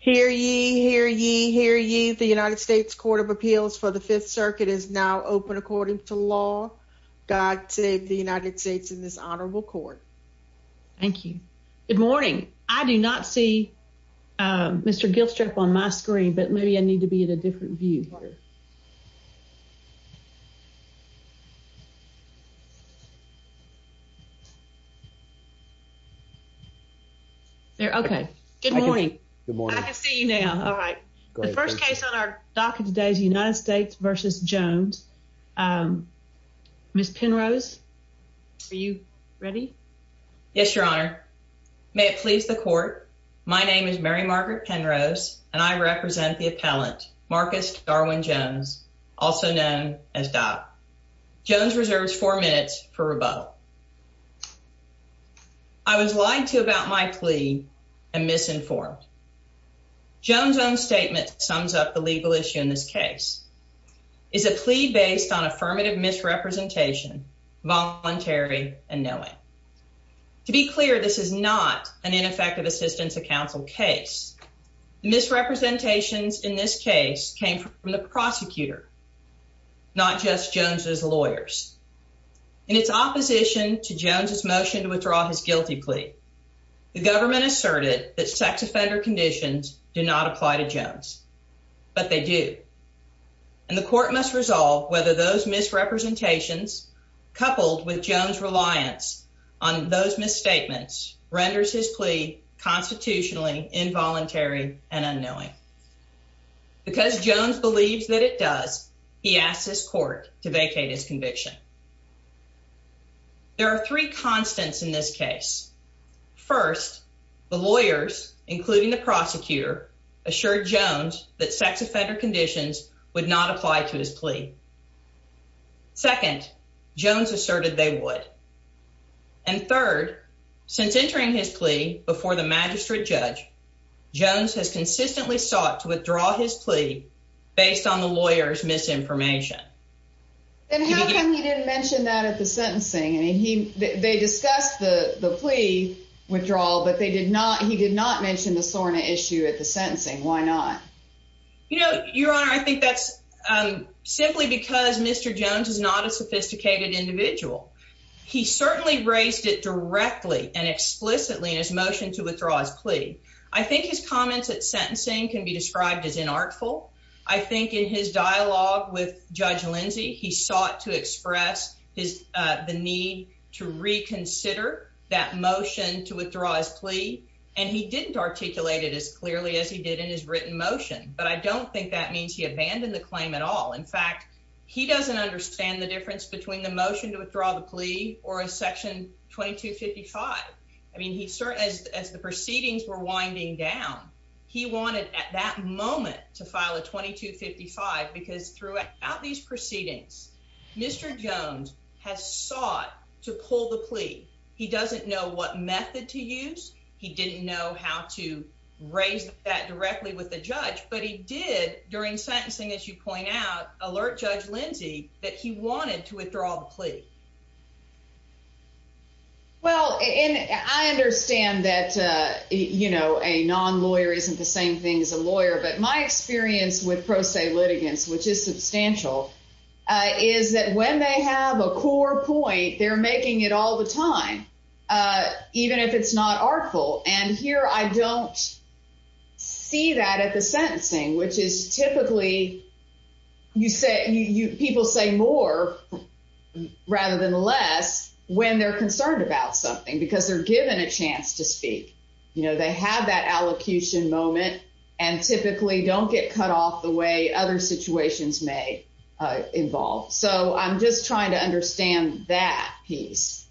Hear ye, hear ye, hear ye. The United States Court of Appeals for the Fifth Circuit is now open according to law. God save the United States in this honorable court. Thank you. Good morning. I do not see Mr. Gilstrap on my screen, but maybe I need to be in a different view. There. Okay. Good morning. Good morning. I can see you now. All right. The first case on our docket today is United States v. Jones. Um, Miss Penrose, are you ready? Yes, Your Honor. May it please the court. My name is Mary Pellant, Marcus Darwin Jones, also known as Dot. Jones reserves four minutes for rebuttal. I was lied to about my plea and misinformed. Jones' own statement sums up the legal issue in this case is a plea based on affirmative misrepresentation, voluntary and knowing. To be clear, this is not an effective assistance of counsel case. Misrepresentations in this case came from the prosecutor, not just Jones's lawyers. In its opposition to Jones's motion to withdraw his guilty plea, the government asserted that sex offender conditions do not apply to Jones, but they do. And the court must resolve whether those misrepresentations, coupled with Jones' reliance on those misstatements, renders his plea constitutionally involuntary and unknowing. Because Jones believes that it does, he asked his court to vacate his conviction. There are three constants in this case. First, the lawyers, including the prosecutor, assured Jones that sex offender conditions would not apply to his plea. Second, Jones asserted they would. And third, since entering his plea before the magistrate judge, Jones has consistently sought to withdraw his plea based on the lawyer's misinformation. And how come he didn't mention that at the sentencing? I mean, he they discussed the plea withdrawal, but they did not. He did not mention the SORNA issue at the sentencing. Why not? You know, Your Honor, I think that's simply because Mr. Jones is not a sophisticated individual. He certainly raised it directly and explicitly in his motion to withdraw his plea. I think his comments at sentencing can be described as inartful. I think in his dialogue with Judge Lindsey, he sought to express his the need to reconsider that motion to withdraw his plea, and he didn't articulate it as clearly as he did in his written motion. But I don't think that means he abandoned the claim at all. In fact, he doesn't understand the difference between the motion to withdraw the plea or a section 22 55. I mean, he started as the proceedings were winding down. He wanted at that moment to file a 22 55 because throughout these proceedings, Mr. Jones has sought to pull the plea. He doesn't know what method to use. He didn't know how to raise that directly with the judge. But he did during sentencing, as you point out, alert Judge Lindsey that he wanted to withdraw the plea. Well, I understand that, you know, a non lawyer isn't the same thing as a lawyer. But my experience with pro se litigants, which is substantial, is that when they have a core point, they're making it all the time, even if it's not artful. And here I don't see that at the sentencing, which is typically you say you people say more rather than less when they're concerned about something because they're given a chance to speak. You know, they have that allocution moment and typically don't get cut off the way other situations may involve. So I'm just trying to understand that piece.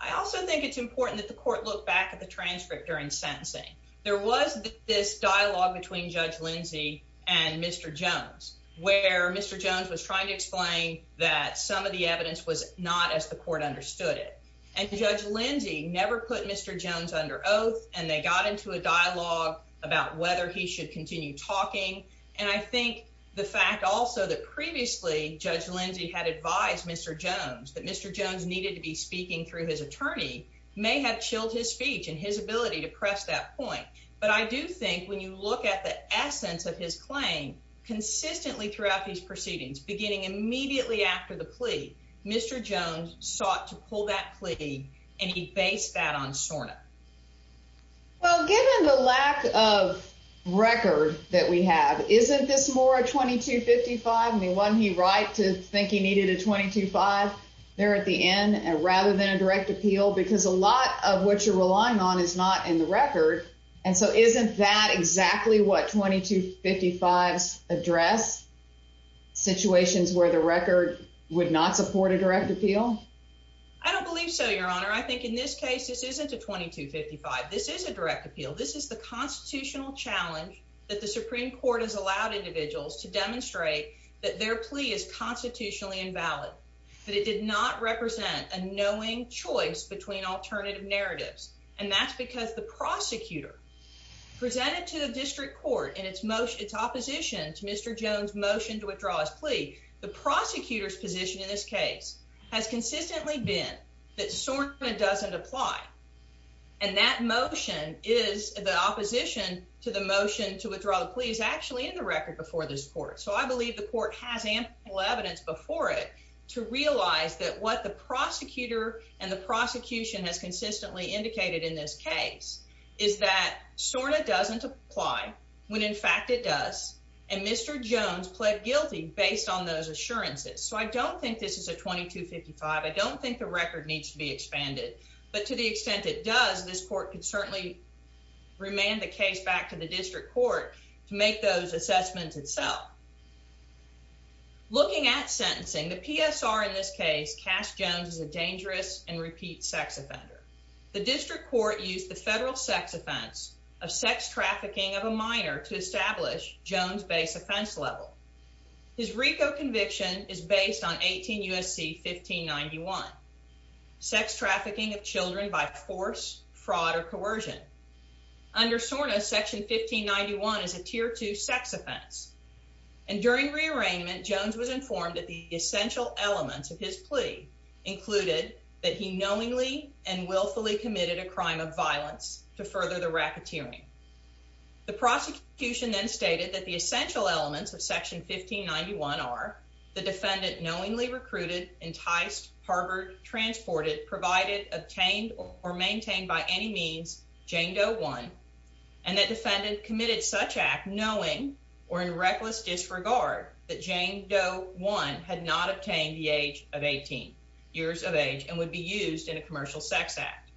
I also think it's important that the court look back at the transcript during sentencing. There was this dialogue between Judge Lindsey and Mr Jones, where Mr Jones was trying to explain that some of the evidence was not as the court understood it. And Judge Lindsey never put Mr Jones under oath, and they got into a dialogue about whether he should continue talking. And I think the fact also that previously, Judge Lindsey had advised Mr Jones that may have chilled his speech and his ability to press that point. But I do think when you look at the essence of his claim consistently throughout these proceedings, beginning immediately after the plea, Mr Jones sought to pull that plea, and he based that on Sorna. Well, given the lack of record that we have, isn't this more 22 55 the one he right to think he needed a 22 5 there at the end rather than a direct appeal because a lot of what you're relying on is not in the record. And so isn't that exactly what 22 55 address situations where the record would not support a direct appeal? I don't believe so, Your Honor. I think in this case, this isn't a 22 55. This is a direct appeal. This is the constitutional challenge that the Supreme Court has allowed individuals to demonstrate that their plea is constitutionally invalid, that it did not represent a knowing choice between alternative narratives. And that's because the prosecutor presented to the district court in its most its opposition to Mr Jones motion to withdraw his plea. The prosecutor's position in this case has consistently been that sort of doesn't apply, and that motion is the opposition to the motion to withdraw. Please actually in the record before this court. So I believe the court has ample evidence before it to realize that what the executor and the prosecution has consistently indicated in this case is that sort of doesn't apply when, in fact, it does. And Mr Jones pled guilty based on those assurances. So I don't think this is a 22 55. I don't think the record needs to be expanded, but to the extent it does, this court could certainly remain the case back to the district court to make those assessments itself. Looking at sentencing the PSR in this case cast Jones is a dangerous and repeat sex offender. The district court used the federal sex offense of sex trafficking of a minor to establish Jones base offense level. His Rico conviction is based on 18 U. S. C. 15 91 sex trafficking of Children by force, fraud or coercion. Under Sorna, Section 15 91 is a tier two sex offense, and during rearrangement, Jones was informed that the essential elements of his plea included that he knowingly and willfully committed a crime of violence to further the racketeering. The prosecution then stated that the essential elements of Section 15 91 are the defendant knowingly recruited, enticed, harbored, transported, provided, obtained or maintained by any means Jane Doe one and that defendant committed such act knowing or in reckless disregard that Jane Doe one had not obtained the age of 18 years of age and would be used in a commercial sex act.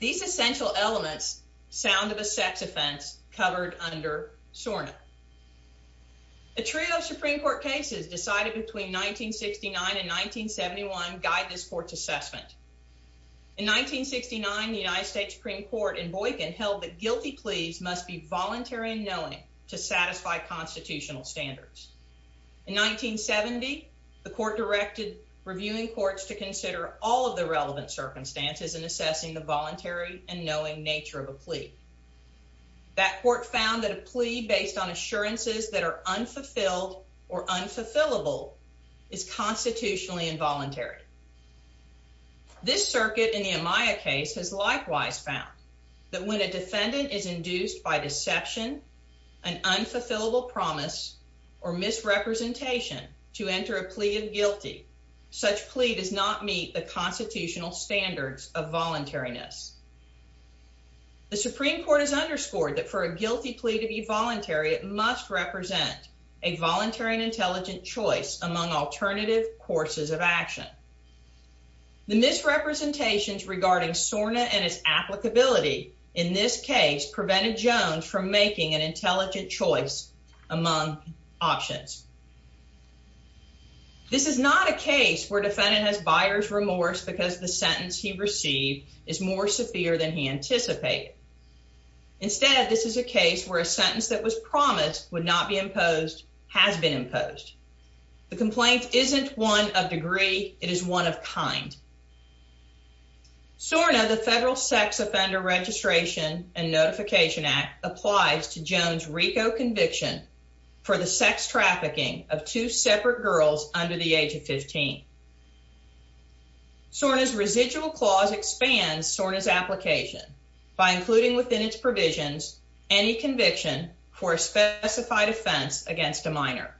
These essential elements sound of a sex offense covered under Sorna. A trio of Supreme Court cases decided between 1969 and 1971 guide this court's assessment. In 1969, the United States Supreme Court in Boykin held that guilty pleas must be voluntary and knowing to satisfy constitutional standards. In 1970, the court directed reviewing courts to consider all of the relevant circumstances in assessing the voluntary and knowing nature of a plea. That court found that a plea based on assurances that are unfulfilled or unfulfillable is constitutionally involuntary. This circuit in the Amaya case has likewise found that when a defendant is induced by deception, an unfulfillable promise or misrepresentation to enter a plea of guilty, such plea does not meet the constitutional standards of Supreme Court has underscored that for a guilty plea to be voluntary, it must represent a voluntary and intelligent choice among alternative courses of action. The misrepresentations regarding Sorna and his applicability in this case prevented Jones from making an intelligent choice among options. This is not a case where defendant has buyer's remorse because the sentence he received is more severe than he anticipated. Instead, this is a case where a sentence that was promised would not be imposed has been imposed. The complaint isn't one of degree. It is one of kind. Sorna, the federal Sex Offender Registration and Notification Act applies to Jones RICO conviction for the sex trafficking of two separate girls under the age of 15. Sorna's residual clause expands Sorna's application by including within its provisions any conviction for a specified offense against a minor.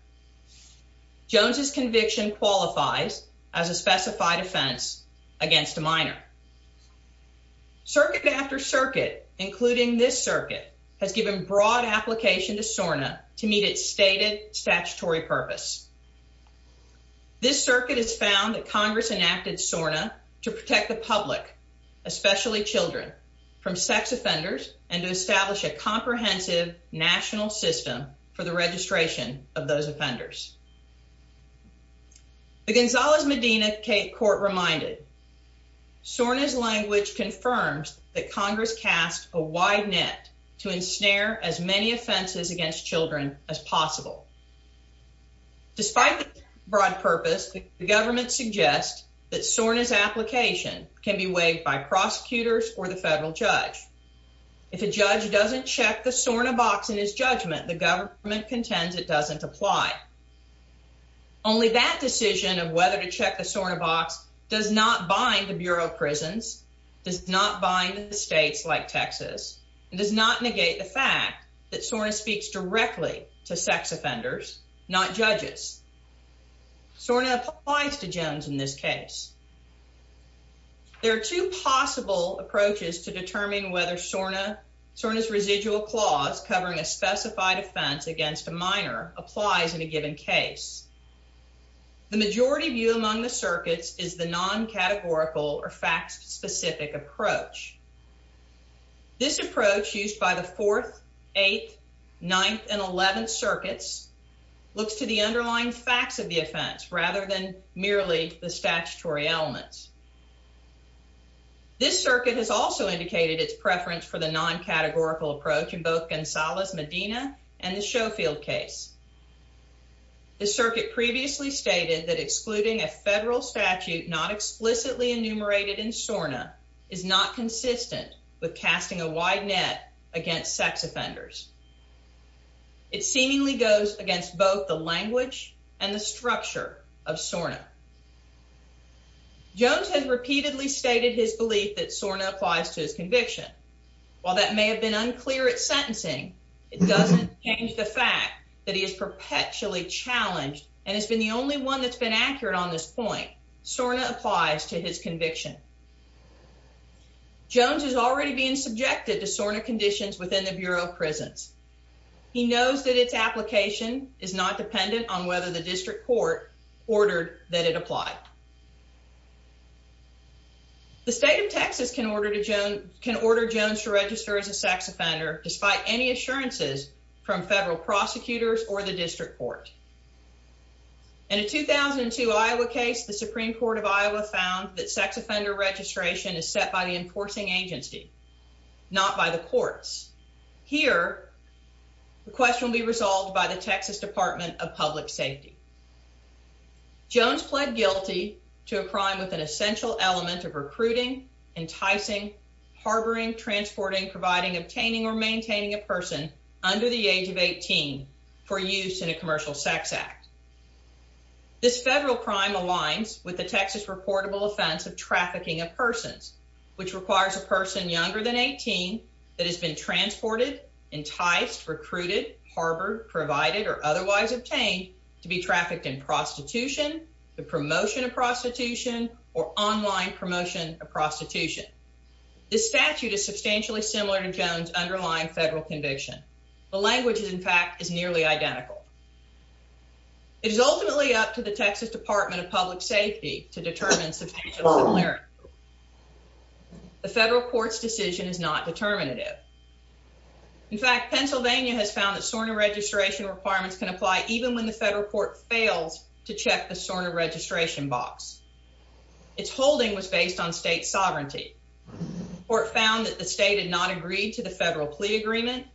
Jones's conviction qualifies as a specified offense against a minor circuit after circuit, including this circuit, has given broad application to Sorna to meet its stated statutory purpose. This circuit is found that Congress enacted Sorna to protect the public, especially Children from sex offenders and to establish a comprehensive national system for the registration of those offenders. The Gonzalez Medina Cape Court reminded Sorna's language confirms that Congress cast a wide net to ensnare as many offenses against Children as possible. Despite the broad purpose, the government suggests that Sorna's application can be waived by prosecutors or the federal judge. If a judge doesn't check the Sorna box in his judgment, the government contends it doesn't apply. Only that decision of whether to check the Sorna box does not bind the Bureau of Prisons, does not bind the states like Texas, and does not negate the fact that Sorna speaks directly to sex offenders, not judges. Sorna applies to Jones in this case. There are two possible approaches to determine whether Sorna's residual clause covering a specified offense against a minor applies in a given case. The majority view among the circuits is the non categorical or facts specific approach. This approach used by the 4th, 8th, 9th and 11th circuits looks to the underlying facts of the offense rather than merely the statutory elements. This circuit has also indicated its preference for the non categorical approach in both Gonzalez Medina and the Schofield case. The circuit previously stated that excluding a federal statute not consistent with casting a wide net against sex offenders. It seemingly goes against both the language and the structure of Sorna. Jones has repeatedly stated his belief that Sorna applies to his conviction. While that may have been unclear at sentencing, it doesn't change the fact that he is perpetually challenged and has been the only one that's been accurate on this point. Sorna applies to his conviction. Jones is already being subjected to Sorna conditions within the Bureau of Prisons. He knows that its application is not dependent on whether the district court ordered that it applied. The state of Texas can order to Joan can order Jones to register as a sex offender despite any assurances from federal prosecutors or the district court. In a 2002 Iowa case, the Supreme Court of Iowa found that sex offender registration is set by the enforcing agency, not by the courts. Here, the question will be resolved by the Texas Department of Public Safety. Jones pled guilty to a crime with an essential element of recruiting, enticing, harboring, transporting, providing, obtaining or maintaining a person under the age of 18 for use in a commercial sex act. This federal crime aligns with the Texas reportable offense of trafficking of persons, which requires a person younger than 18 that has been transported, enticed, recruited, harbored, provided or otherwise obtained to be trafficked in prostitution, the promotion of prostitution or online promotion of prostitution. This statute is substantially similar to Jones underlying federal conviction. The language is, in fact, is nearly identical. It is ultimately up to the Texas Department of Public Safety to determine substantial similarity. The federal court's decision is not determinative. In fact, Pennsylvania has found that SORNA registration requirements can apply even when the federal court fails to check the SORNA registration box. Its holding was based on state sovereignty. The court found that the state had not agreed to the federal plea agreement,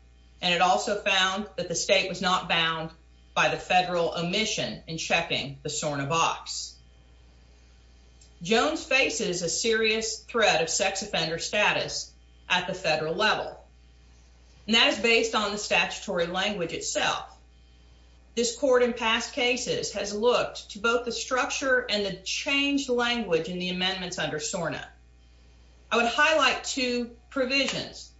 and it also found that the state was not bound by the federal omission in checking the SORNA box. Jones faces a serious threat of sex offender status at the federal level, and that is based on the statutory language itself. This court in past cases has looked to both the structure and the changed language in the amendments under SORNA. I would highlight two provisions.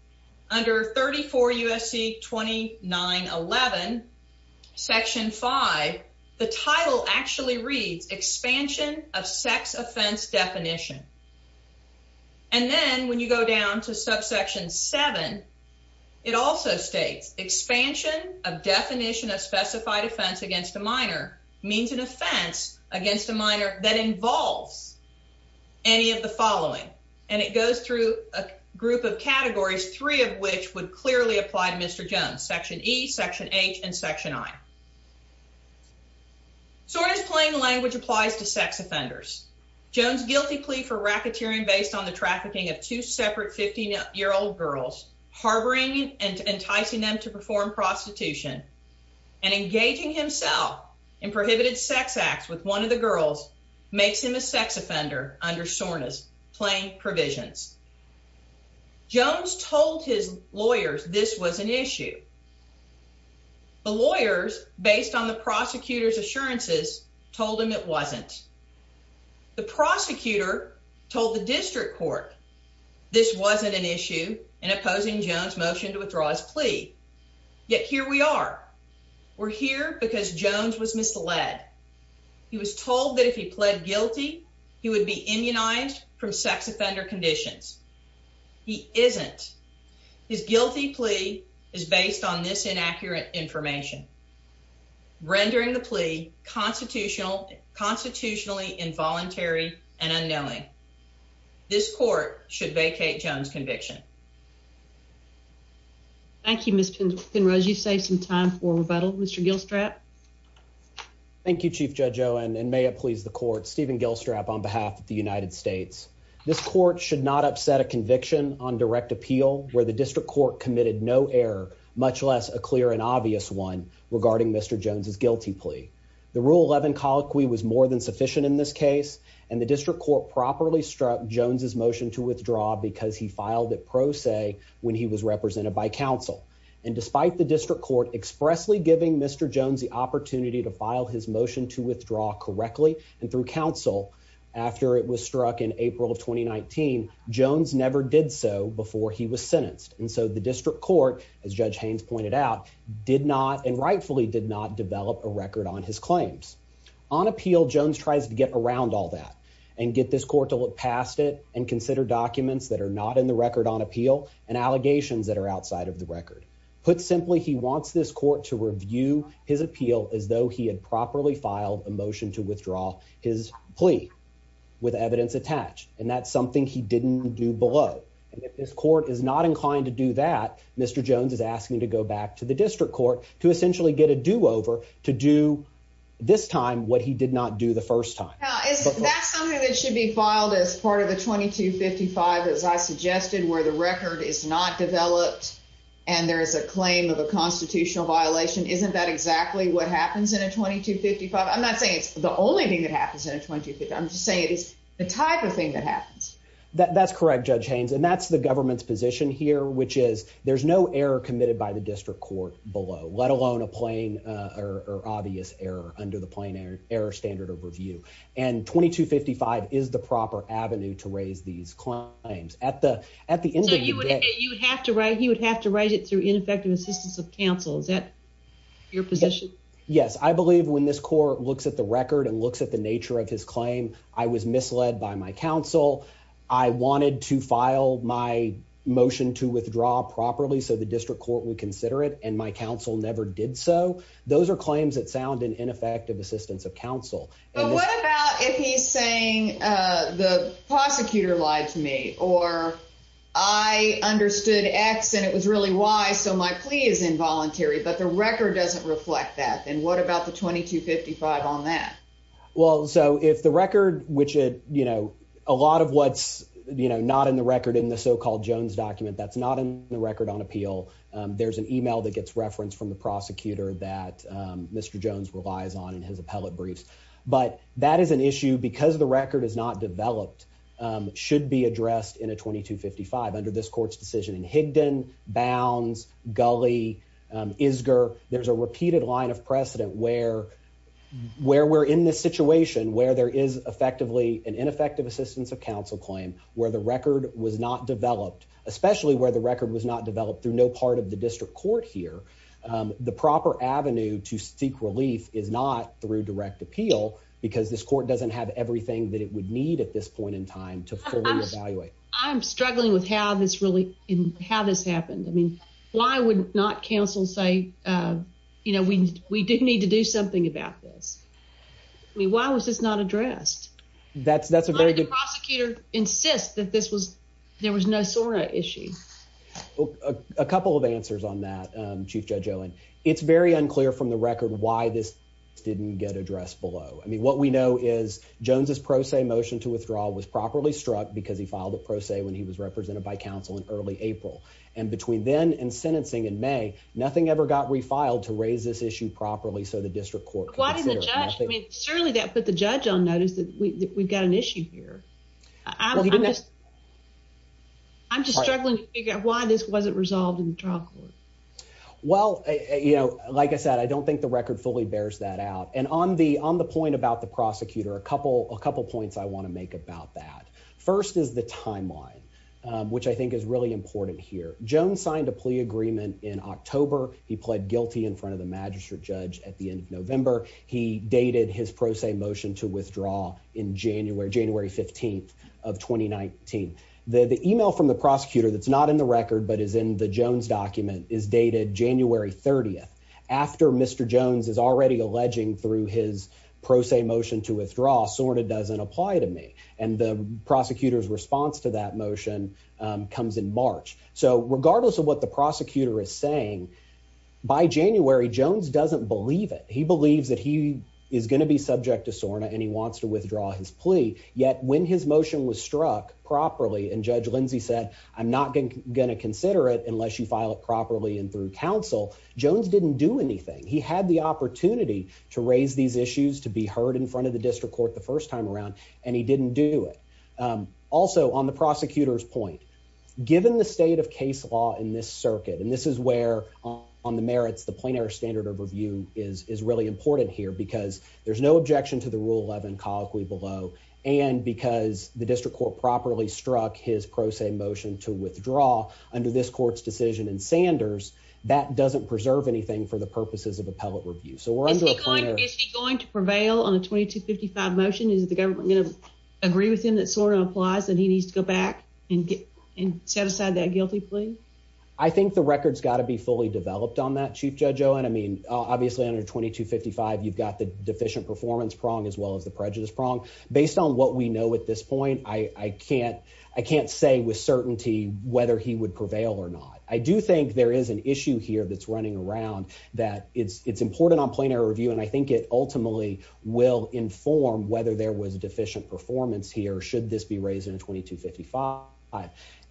Under 34 USC 2911 Section 5, the title actually reads expansion of sex offense definition. And then when you go down to subsection 7, it also states expansion of definition of specified offense against a minor means an offense against a minor that involves any of the following. And it goes through a group of categories, three of which would clearly apply to Mr. Jones, Section E, Section H and Section I. SORNA's plain language applies to sex offenders. Jones' guilty plea for racketeering based on the trafficking of two separate 15 year old girls, harboring and enticing them to perform prostitution and engaging himself in prohibited sex acts with one of the girls makes him a sex offender under SORNA's plain provisions. Jones told his lawyers this was an issue. The lawyers, based on the prosecutor's assurances, told him it wasn't. The prosecutor told the district court this wasn't an issue in opposing Jones' motion to withdraw his plea. Yet here we are. We're here because Jones was misled. He was told that if he pled guilty, he would be immunized from sex isn't. His guilty plea is based on this inaccurate information, rendering the plea constitutional, constitutionally involuntary and unknowing. This court should vacate Jones' conviction. Thank you, Miss Penrose. You save some time for rebuttal. Mr. Gilstrap. Thank you, Chief Judge Owen. And may it please the court. Stephen Gilstrap on behalf of the United States. This court should not upset a conviction on direct appeal where the district court committed no error, much less a clear and obvious one regarding Mr Jones's guilty plea. The rule 11 colloquy was more than sufficient in this case, and the district court properly struck Jones's motion to withdraw because he filed it pro se when he was represented by counsel. And despite the district court expressly giving Mr Jones the opportunity to file his motion to withdraw correctly and through counsel after it was struck in April of 2019, Jones never did so before he was sentenced. And so the district court, as Judge Haynes pointed out, did not and rightfully did not develop a record on his claims on appeal. Jones tries to get around all that and get this court to look past it and consider documents that are not in the record on appeal and allegations that are outside of the record. Put simply, he wants this court to review his appeal as though he had with evidence attached, and that's something he didn't do below. And if this court is not inclined to do that, Mr Jones is asking to go back to the district court to essentially get a do over to do this time what he did not do the first time. That's something that should be filed as part of the 22 55, as I suggested, where the record is not developed and there is a claim of a constitutional violation. Isn't that exactly what happens in a 22 55? I'm just saying it is the type of thing that happens. That's correct, Judge Haynes. And that's the government's position here, which is there's no error committed by the district court below, let alone a plane or obvious error under the plane air air standard of review. And 22 55 is the proper avenue to raise these claims at the at the end of the day, you would have to write. He would have to write it through ineffective assistance of counsel. Is that your position? Yes, I believe when this court looks at the claim, I was misled by my counsel. I wanted to file my motion to withdraw properly so the district court would consider it. And my counsel never did. So those are claims that sound in ineffective assistance of counsel. What about if he's saying the prosecutor lied to me or I understood X and it was really wise. So my plea is involuntary, but the record doesn't reflect that. And what about the 22 55 on that? Well, so if the record which it, you know, a lot of what's, you know, not in the record in the so called Jones document that's not in the record on appeal, there's an email that gets reference from the prosecutor that Mr Jones relies on in his appellate briefs. But that is an issue because the record is not developed, um, should be addressed in a 22 55 under this court's decision in Higdon Bounds Gully, um, isger. There's a repeated line of precedent where where we're in this situation where there is effectively an ineffective assistance of counsel claim where the record was not developed, especially where the record was not developed through no part of the district court here. The proper avenue to seek relief is not through direct appeal because this court doesn't have everything that it would need at this point in time to fully evaluate. I'm struggling with how this really how this happened. I mean, why would not counsel say, uh, you know, we didn't need to do something about this. Why was this not addressed? That's that's a very good prosecutor insist that this was there was no sort of issue. A couple of answers on that. Um, Chief Judge Owen, it's very unclear from the record why this didn't get addressed below. I mean, what we know is Jones's pro se motion to withdraw was properly struck because he filed a pro se when he was represented by counsel in early April. And between then and sentencing in May, nothing ever got refiled to raise this issue properly. So the district court why the judge certainly that put the judge on notice that we've got an issue here. I'm just I'm just struggling to figure out why this wasn't resolved in the trial court. Well, you know, like I said, I don't think the record fully bears that out. And on the on the point about the prosecutor, a couple a couple points I want to make about that first is the timeline, which I think is really important here. Jones signed a plea agreement in October. He pled guilty in front of the magistrate judge at the end of November. He dated his pro se motion to withdraw in January, January 15th of 2019. The email from the prosecutor that's not in the record but is in the Jones document is dated January 30th after Mr Jones is already alleging through his pro se motion to withdraw sort of doesn't apply to me. And the prosecutor's response to that motion comes in March. So regardless of what the prosecutor is saying by January, Jones doesn't believe it. He believes that he is going to be subject to Sorna and he wants to withdraw his plea. Yet when his motion was struck properly and Judge Lindsay said, I'm not going to consider it unless you file it properly. And through counsel, Jones didn't do anything. He had the opportunity to raise these issues to be heard in front of the district court the first time around, and he didn't do it. Um, also on the prosecutor's point, given the state of case law in this circuit, and this is where on the merits, the plein air standard of review is is really important here because there's no objection to the rule 11 cause we below and because the district court properly struck his pro se motion to withdraw under this court's decision and Sanders that doesn't preserve anything for the purposes of is the government going to agree with him? That sort of applies that he needs to go back and and set aside that guilty plea. I think the record's got to be fully developed on that. Chief Judge Owen. I mean, obviously, under 22 55, you've got the deficient performance prong as well as the prejudice prong. Based on what we know at this point, I can't I can't say with certainty whether he would prevail or not. I do think there is an issue here that's running around that it's important on plein air review, and I there was a deficient performance here. Should this be raised in 22 55?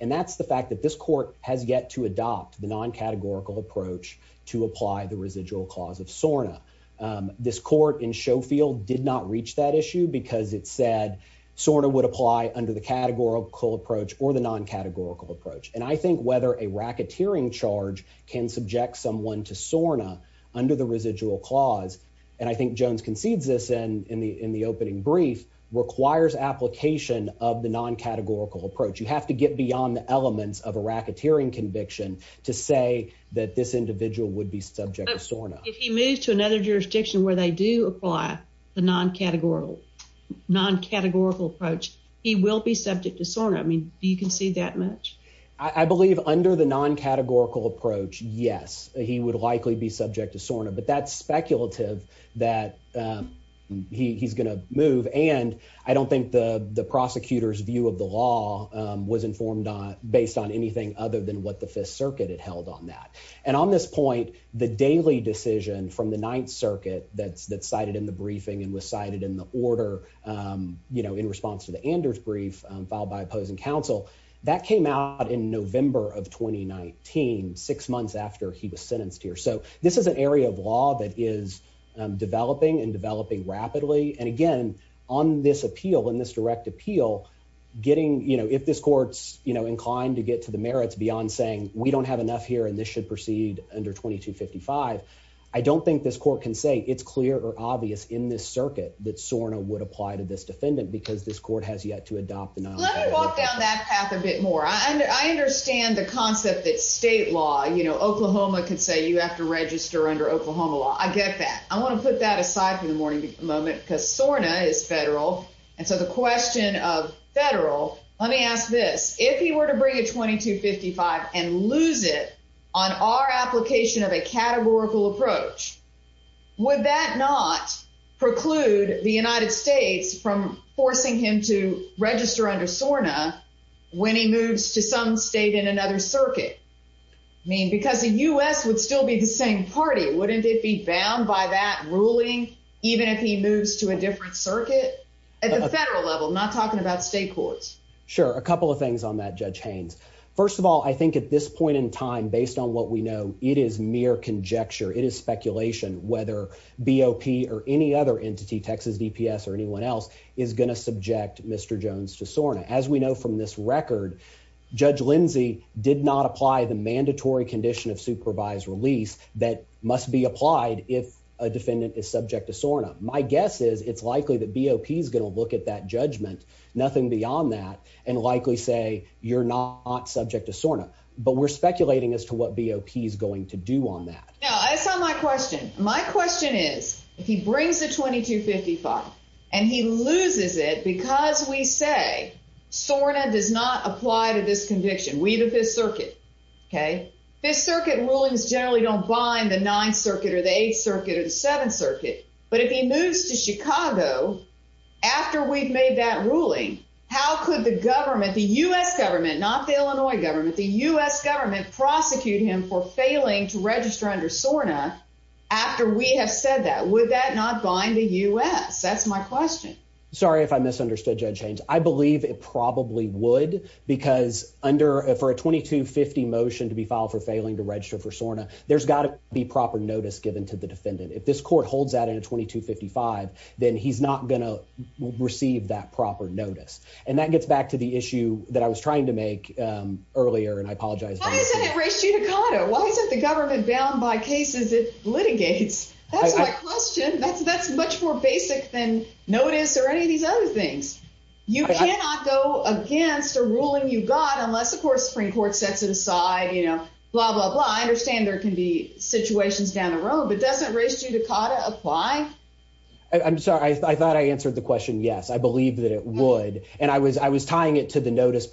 And that's the fact that this court has yet to adopt the non categorical approach to apply the residual cause of Sorna. Um, this court in Sheffield did not reach that issue because it said sort of would apply under the categorical approach or the non categorical approach. And I think whether a racketeering charge can subject someone to Sorna under the residual clause, and I think Jones concedes this and in the in the opening brief requires application of the non categorical approach. You have to get beyond the elements of a racketeering conviction to say that this individual would be subject to Sorna. If he moved to another jurisdiction where they do apply the non categorical non categorical approach, he will be subject to Sorna. I mean, you can see that much. I believe under the non categorical approach. Yes, he would likely be subject to Sorna. But that's speculative that, um, he's gonna move, and I don't think the prosecutor's view of the law was informed on based on anything other than what the Fifth Circuit had held on that. And on this point, the daily decision from the Ninth Circuit that's that cited in the briefing and was cited in the order, um, you know, in response to the Anders brief filed by opposing counsel that came out in November of 2019, six months after he was sentenced here. So this is an area of law that is developing and developing rapidly and again on this appeal in this direct appeal, getting, you know, if this courts, you know, inclined to get to the merits beyond saying we don't have enough here, and this should proceed under 22 55. I don't think this court can say it's clear or obvious in this circuit that Sorna would apply to this defendant because this court has yet to adopt. Let me walk down that path a bit more. I understand the concept that state law, you know, Oklahoma could say you have to register under Oklahoma law. I get that. I want to put that aside for the morning moment because Sorna is federal. And so the question of federal, let me ask this. If he were to bring a 22 55 and lose it on our application of a categorical approach, would that not preclude the United States from forcing him to register under Sorna when he moves to some state in another circuit? I mean, because the U. S. Would still be the same party. Wouldn't it be bound by that ruling? Even if he moves to a different circuit at the federal level, not talking about state courts? Sure. A couple of things on that. Judge Haynes. First of all, I think at this point in time, based on what we know, it is mere conjecture. It is speculation whether B. O. P. Or any other entity, Texas DPS or anyone else is going to subject Mr Jones to Sorna. As we know from this record, Judge Lindsay did not apply the mandatory condition of supervised release that must be applied. If a defendant is subject to Sorna, my guess is it's likely that B. O. P. Is gonna look at that judgment. Nothing beyond that and likely say you're not subject to Sorna. But we're speculating as to what B. O. P. Is going to do on that. No, that's not my question. My question is, if he brings the 22 55 and he loses it because we say Sorna does not apply to this conviction, we the Fifth Circuit. Okay, Fifth Circuit rulings generally don't bind the Ninth Circuit or the Eighth Circuit of the Seventh Circuit. But if he moves to Chicago after we've made that ruling, how could the government, the U. S. Government, not the Illinois government, the U. S. Government prosecute him for failing to register under Sorna after we have said that? Would that not bind the U. S. That's my question. Sorry if I misunderstood Judge Haynes. I believe it probably would because under for a 22 50 motion to be filed for failing to register for Sorna, there's got to be proper notice given to the defendant. If this court holds that in a 22 55, then he's not gonna receive that proper notice. And that gets back to the issue that I was trying to make earlier. And I apologize. Why isn't it race is it litigates? That's my question. That's that's much more basic than notice or any of these other things. You cannot go against a ruling you got unless, of course, Supreme Court sets it aside. You know, blah, blah, blah. I understand there could be situations down the road, but doesn't race to Dakota apply? I'm sorry. I thought I answered the question. Yes, I believe that it would. And I was I was tying it to the notice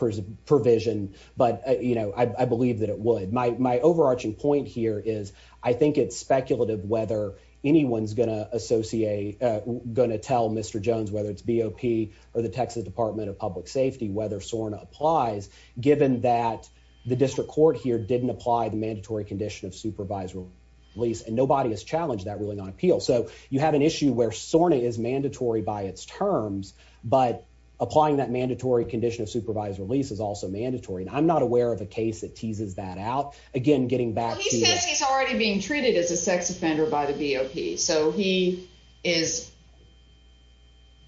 provision. But, you know, I believe that it would. My overarching point here is I think it's speculative whether anyone's gonna associate gonna tell Mr Jones, whether it's B. O. P. Or the Texas Department of Public Safety, whether Sorna applies, given that the district court here didn't apply the mandatory condition of supervisory release, and nobody has challenged that ruling on appeal. So you have an issue where Sorna is mandatory by its terms, but applying that mandatory condition of supervised release is also mandatory. And I'm not aware of a case that teases that out again, getting back. He's already being treated as a sex offender by the B. O. P. So he is.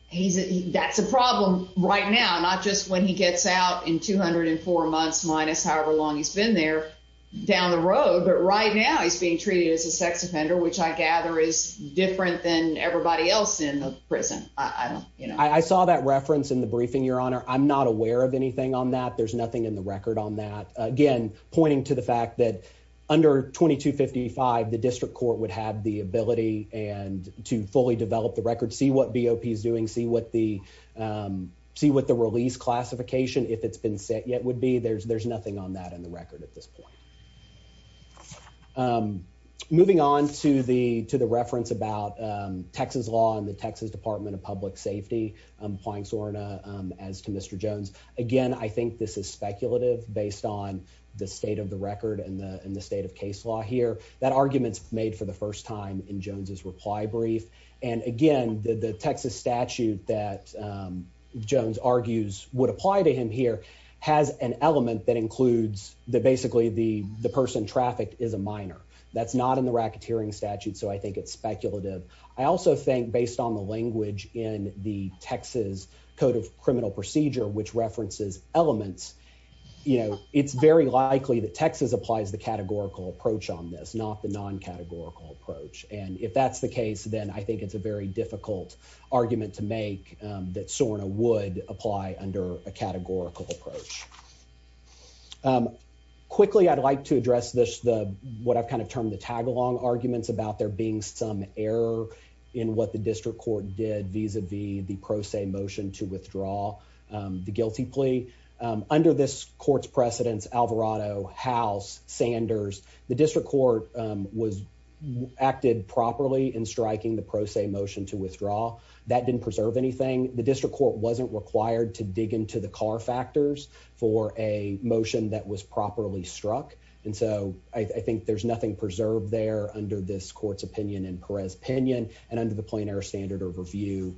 He's that's a problem right now, not just when he gets out in 204 months, minus however long he's been there down the road. But right now he's being treated as a sex offender, which I gather is different than everybody else in the prison. I don't you know, I saw that reference in the briefing. Your I'm not aware of anything on that. There's nothing in the record on that again, pointing to the fact that under 22 55, the district court would have the ability and to fully develop the record. See what B. O. P. Is doing. See what the, um, see what the release classification, if it's been set yet, would be there's there's nothing on that in the record at this point. Um, moving on to the to the reference about Texas law and the Texas Department of Public Safety Applying Sorna as to Mr Jones. Again, I think this is speculative based on the state of the record and the state of case law here that arguments made for the first time in Jones's reply brief. And again, the Texas statute that, um, Jones argues would apply to him here has an element that includes the basically the person trafficked is a minor. That's not in the racketeering statute. So I think it's speculative. I also think based on the language in the Texas Code of Criminal Procedure, which references elements, you know, it's very likely that Texas applies the categorical approach on this, not the non categorical approach. And if that's the case, then I think it's a very difficult argument to make that Sorna would apply under a categorical approach. Um, quickly, I'd like to address this. The what I've kind of termed the district court did vis a vis the pro se motion to withdraw, um, the guilty plea under this court's precedents. Alvarado House Sanders. The district court was acted properly in striking the pro se motion to withdraw that didn't preserve anything. The district court wasn't required to dig into the car factors for a motion that was properly struck. And so I think there's nothing preserved there under this court's opinion in Perez opinion and the plane air standard of review.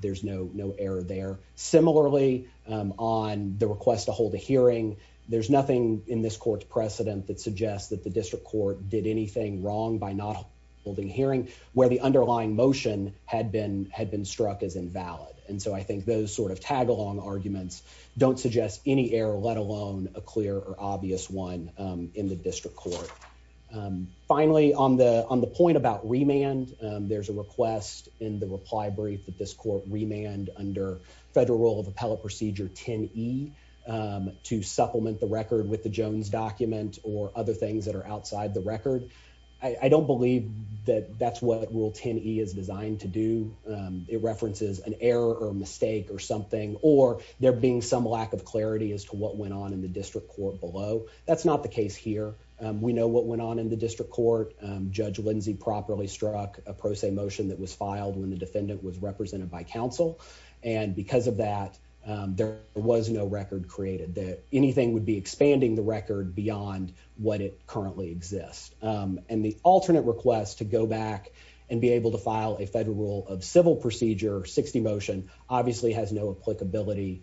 There's no no error there. Similarly, on the request to hold a hearing, there's nothing in this court's precedent that suggests that the district court did anything wrong by not holding hearing where the underlying motion had been had been struck as invalid. And so I think those sort of tag along arguments don't suggest any air, let alone a clear or obvious one in the district court. Um, finally, on the on the point about remand, there's a request in the reply brief that this court remand under federal rule of appellate procedure 10 E, um, to supplement the record with the Jones document or other things that are outside the record. I don't believe that that's what rule 10 E is designed to do. It references an error or mistake or something, or there being some lack of clarity as to what went on in the district court below. That's not the case here. We know what went on in the district court. Judge Lindsey properly struck a pro se motion that was filed when the defendant was represented by council. And because of that, there was no record created that anything would be expanding the record beyond what it currently exists. Um, and the alternate request to go back and be able to file a federal rule of civil procedure 60 motion obviously has no applicability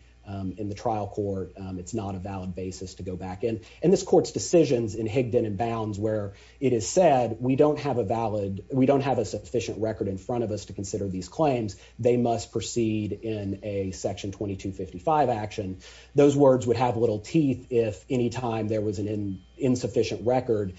in the trial court. It's not a valid basis to go back in, and this court's decisions in Higdon and Bounds, where it is said we don't have a valid. We don't have a sufficient record in front of us to consider these claims. They must proceed in a Section 22 55 action. Those words would have little teeth. If any time there was an insufficient record,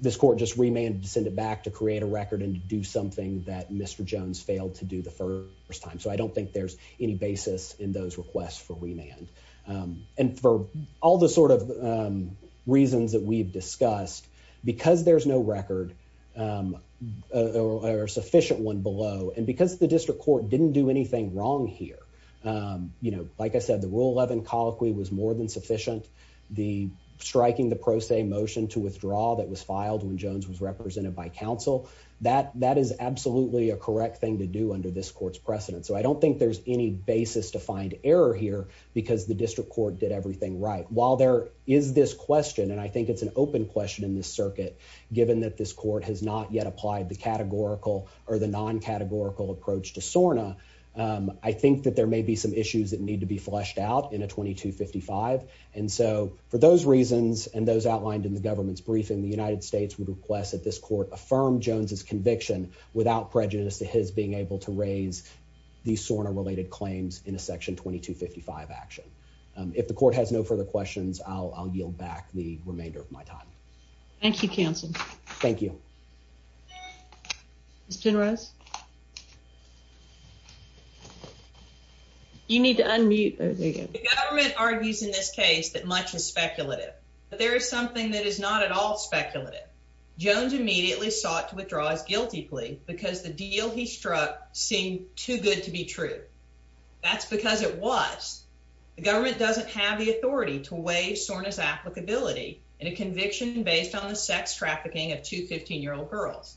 this court just remanded to send it back to create a record and do something that Mr Jones failed to do the first time. So I don't think there's any basis in those requests for remand. Um, and for all the sort of reasons that we've discussed because there's no record, um, or sufficient one below and because the district court didn't do anything wrong here. Um, you know, like I said, the rule 11 colloquy was more than sufficient. The striking the pro se motion to withdraw that was filed when Jones was represented by council. That that is absolutely a correct thing to under this court's precedent. So I don't think there's any basis to find error here because the district court did everything right. While there is this question, and I think it's an open question in this circuit, given that this court has not yet applied the categorical or the non categorical approach to Sorna, I think that there may be some issues that need to be fleshed out in a 22 55. And so for those reasons and those outlined in the government's briefing, the United States would request that this court affirm Jones's conviction without prejudice to his being able to raise the Sorna related claims in a section 22 55 action. If the court has no further questions, I'll yield back the remainder of my time. Thank you, Council. Thank you. It's generous. You need to unmute. The government argues in this case that much is speculative, but there is something that is not at all speculative. Jones immediately sought to withdraw his guilty plea because the deal he struck seemed too good to be true. That's because it was. The government doesn't have the authority to weigh Sorna's applicability in a conviction based on the sex trafficking of 2 15 year old girls.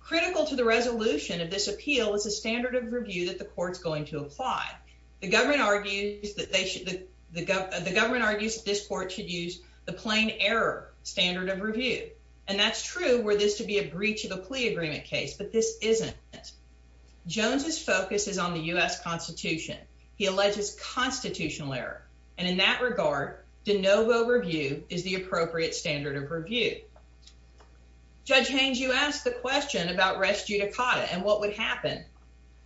Critical to the resolution of this appeal is a standard of review that the court's going to apply. The government argues that they should. The government argues this court should the plane error standard of review, and that's true where this to be a breach of a plea agreement case. But this isn't. Jones's focus is on the U. S. Constitution. He alleges constitutional error, and in that regard, de novo review is the appropriate standard of review. Judge Haines, you asked the question about rescue Dakota and what would happen.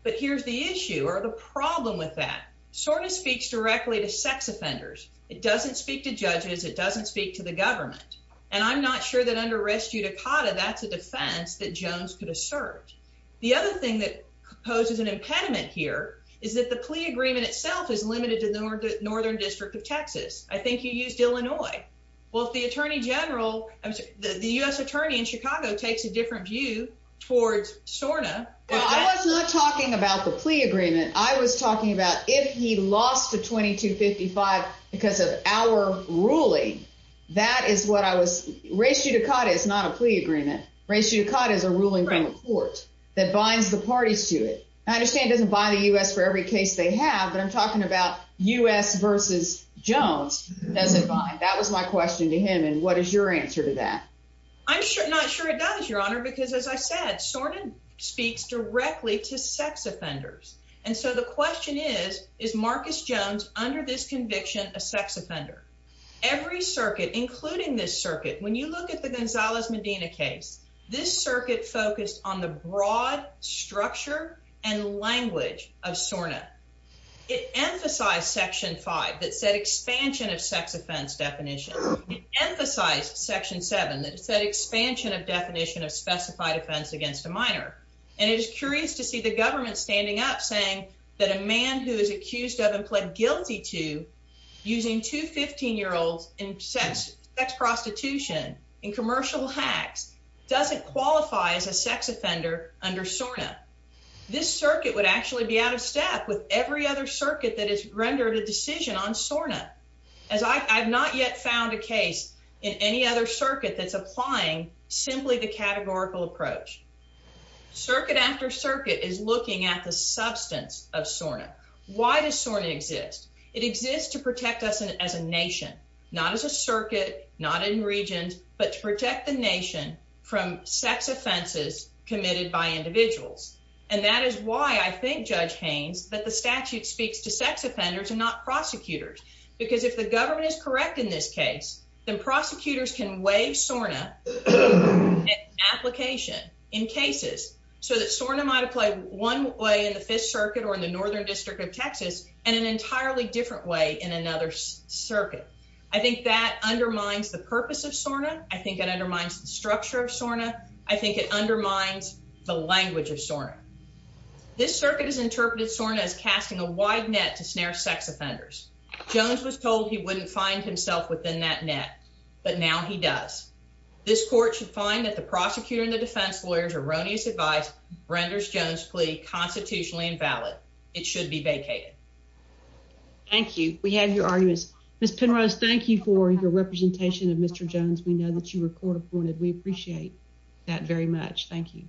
But here's the issue or the problem with that sort of speaks directly to sex offenders. It doesn't speak to judges. It doesn't speak to the government, and I'm not sure that under rescue Dakota. That's a defense that Jones could assert. The other thing that poses an impediment here is that the plea agreement itself is limited to the northern district of Texas. I think you used Illinois. Well, if the attorney general, the U. S. Attorney in Chicago takes a different view towards Sorna. I was not talking about the 22 55 because of our ruling. That is what I was raised. You Dakota is not a plea agreement ratio caught is a ruling from a court that binds the parties to it. I understand doesn't buy the U. S. For every case they have. But I'm talking about U. S. Versus Jones doesn't mind. That was my question to him. And what is your answer to that? I'm not sure it does, Your Honor, because, as I said, Sorna speaks directly to sex offenders. And so the question is, is Marcus Jones under this conviction a sex offender? Every circuit, including this circuit. When you look at the Gonzalez Medina case, this circuit focused on the broad structure and language of Sorna. It emphasized Section five that said expansion of sex offense definition emphasized Section seven that said expansion of definition of specified offense against a minor. And it is curious to see the government standing up, saying that a man who is accused of and pled guilty to using to 15 year olds in sex, sex, prostitution and commercial hacks doesn't qualify as a sex offender under Sorna. This circuit would actually be out of step with every other circuit that is rendered a decision on Sorna, as I have not yet found a case in any other circuit that's applying simply the categorical approach. Circuit after circuit is looking at the substance of Sorna. Why does Sorna exist? It exists to protect us as a nation, not as a circuit, not in regions, but to protect the nation from sex offenses committed by individuals. And that is why I think Judge Haynes that the statute speaks to sex offenders and not prosecutors. Because if the government is correct in this case, then prosecutors can wave Sorna application in cases so that Sorna might apply one way in the Fifth Circuit or in the northern district of Texas and an entirely different way in another circuit. I think that undermines the purpose of Sorna. I think it undermines the structure of Sorna. I think it undermines the language of Sorna. This circuit is interpreted Sorna is casting a wide net to snare sex offenders. Jones was told he within that net. But now he does. This court should find that the prosecutor and the defense lawyers erroneous advice renders Jones plea constitutionally invalid. It should be vacated. Thank you. We have your arguments. Miss Penrose, thank you for your representation of Mr Jones. We know that you were court appointed. We appreciate that very much. Thank you.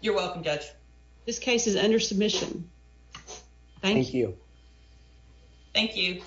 You're welcome, Judge. This case is under submission. Thank you. Thank you.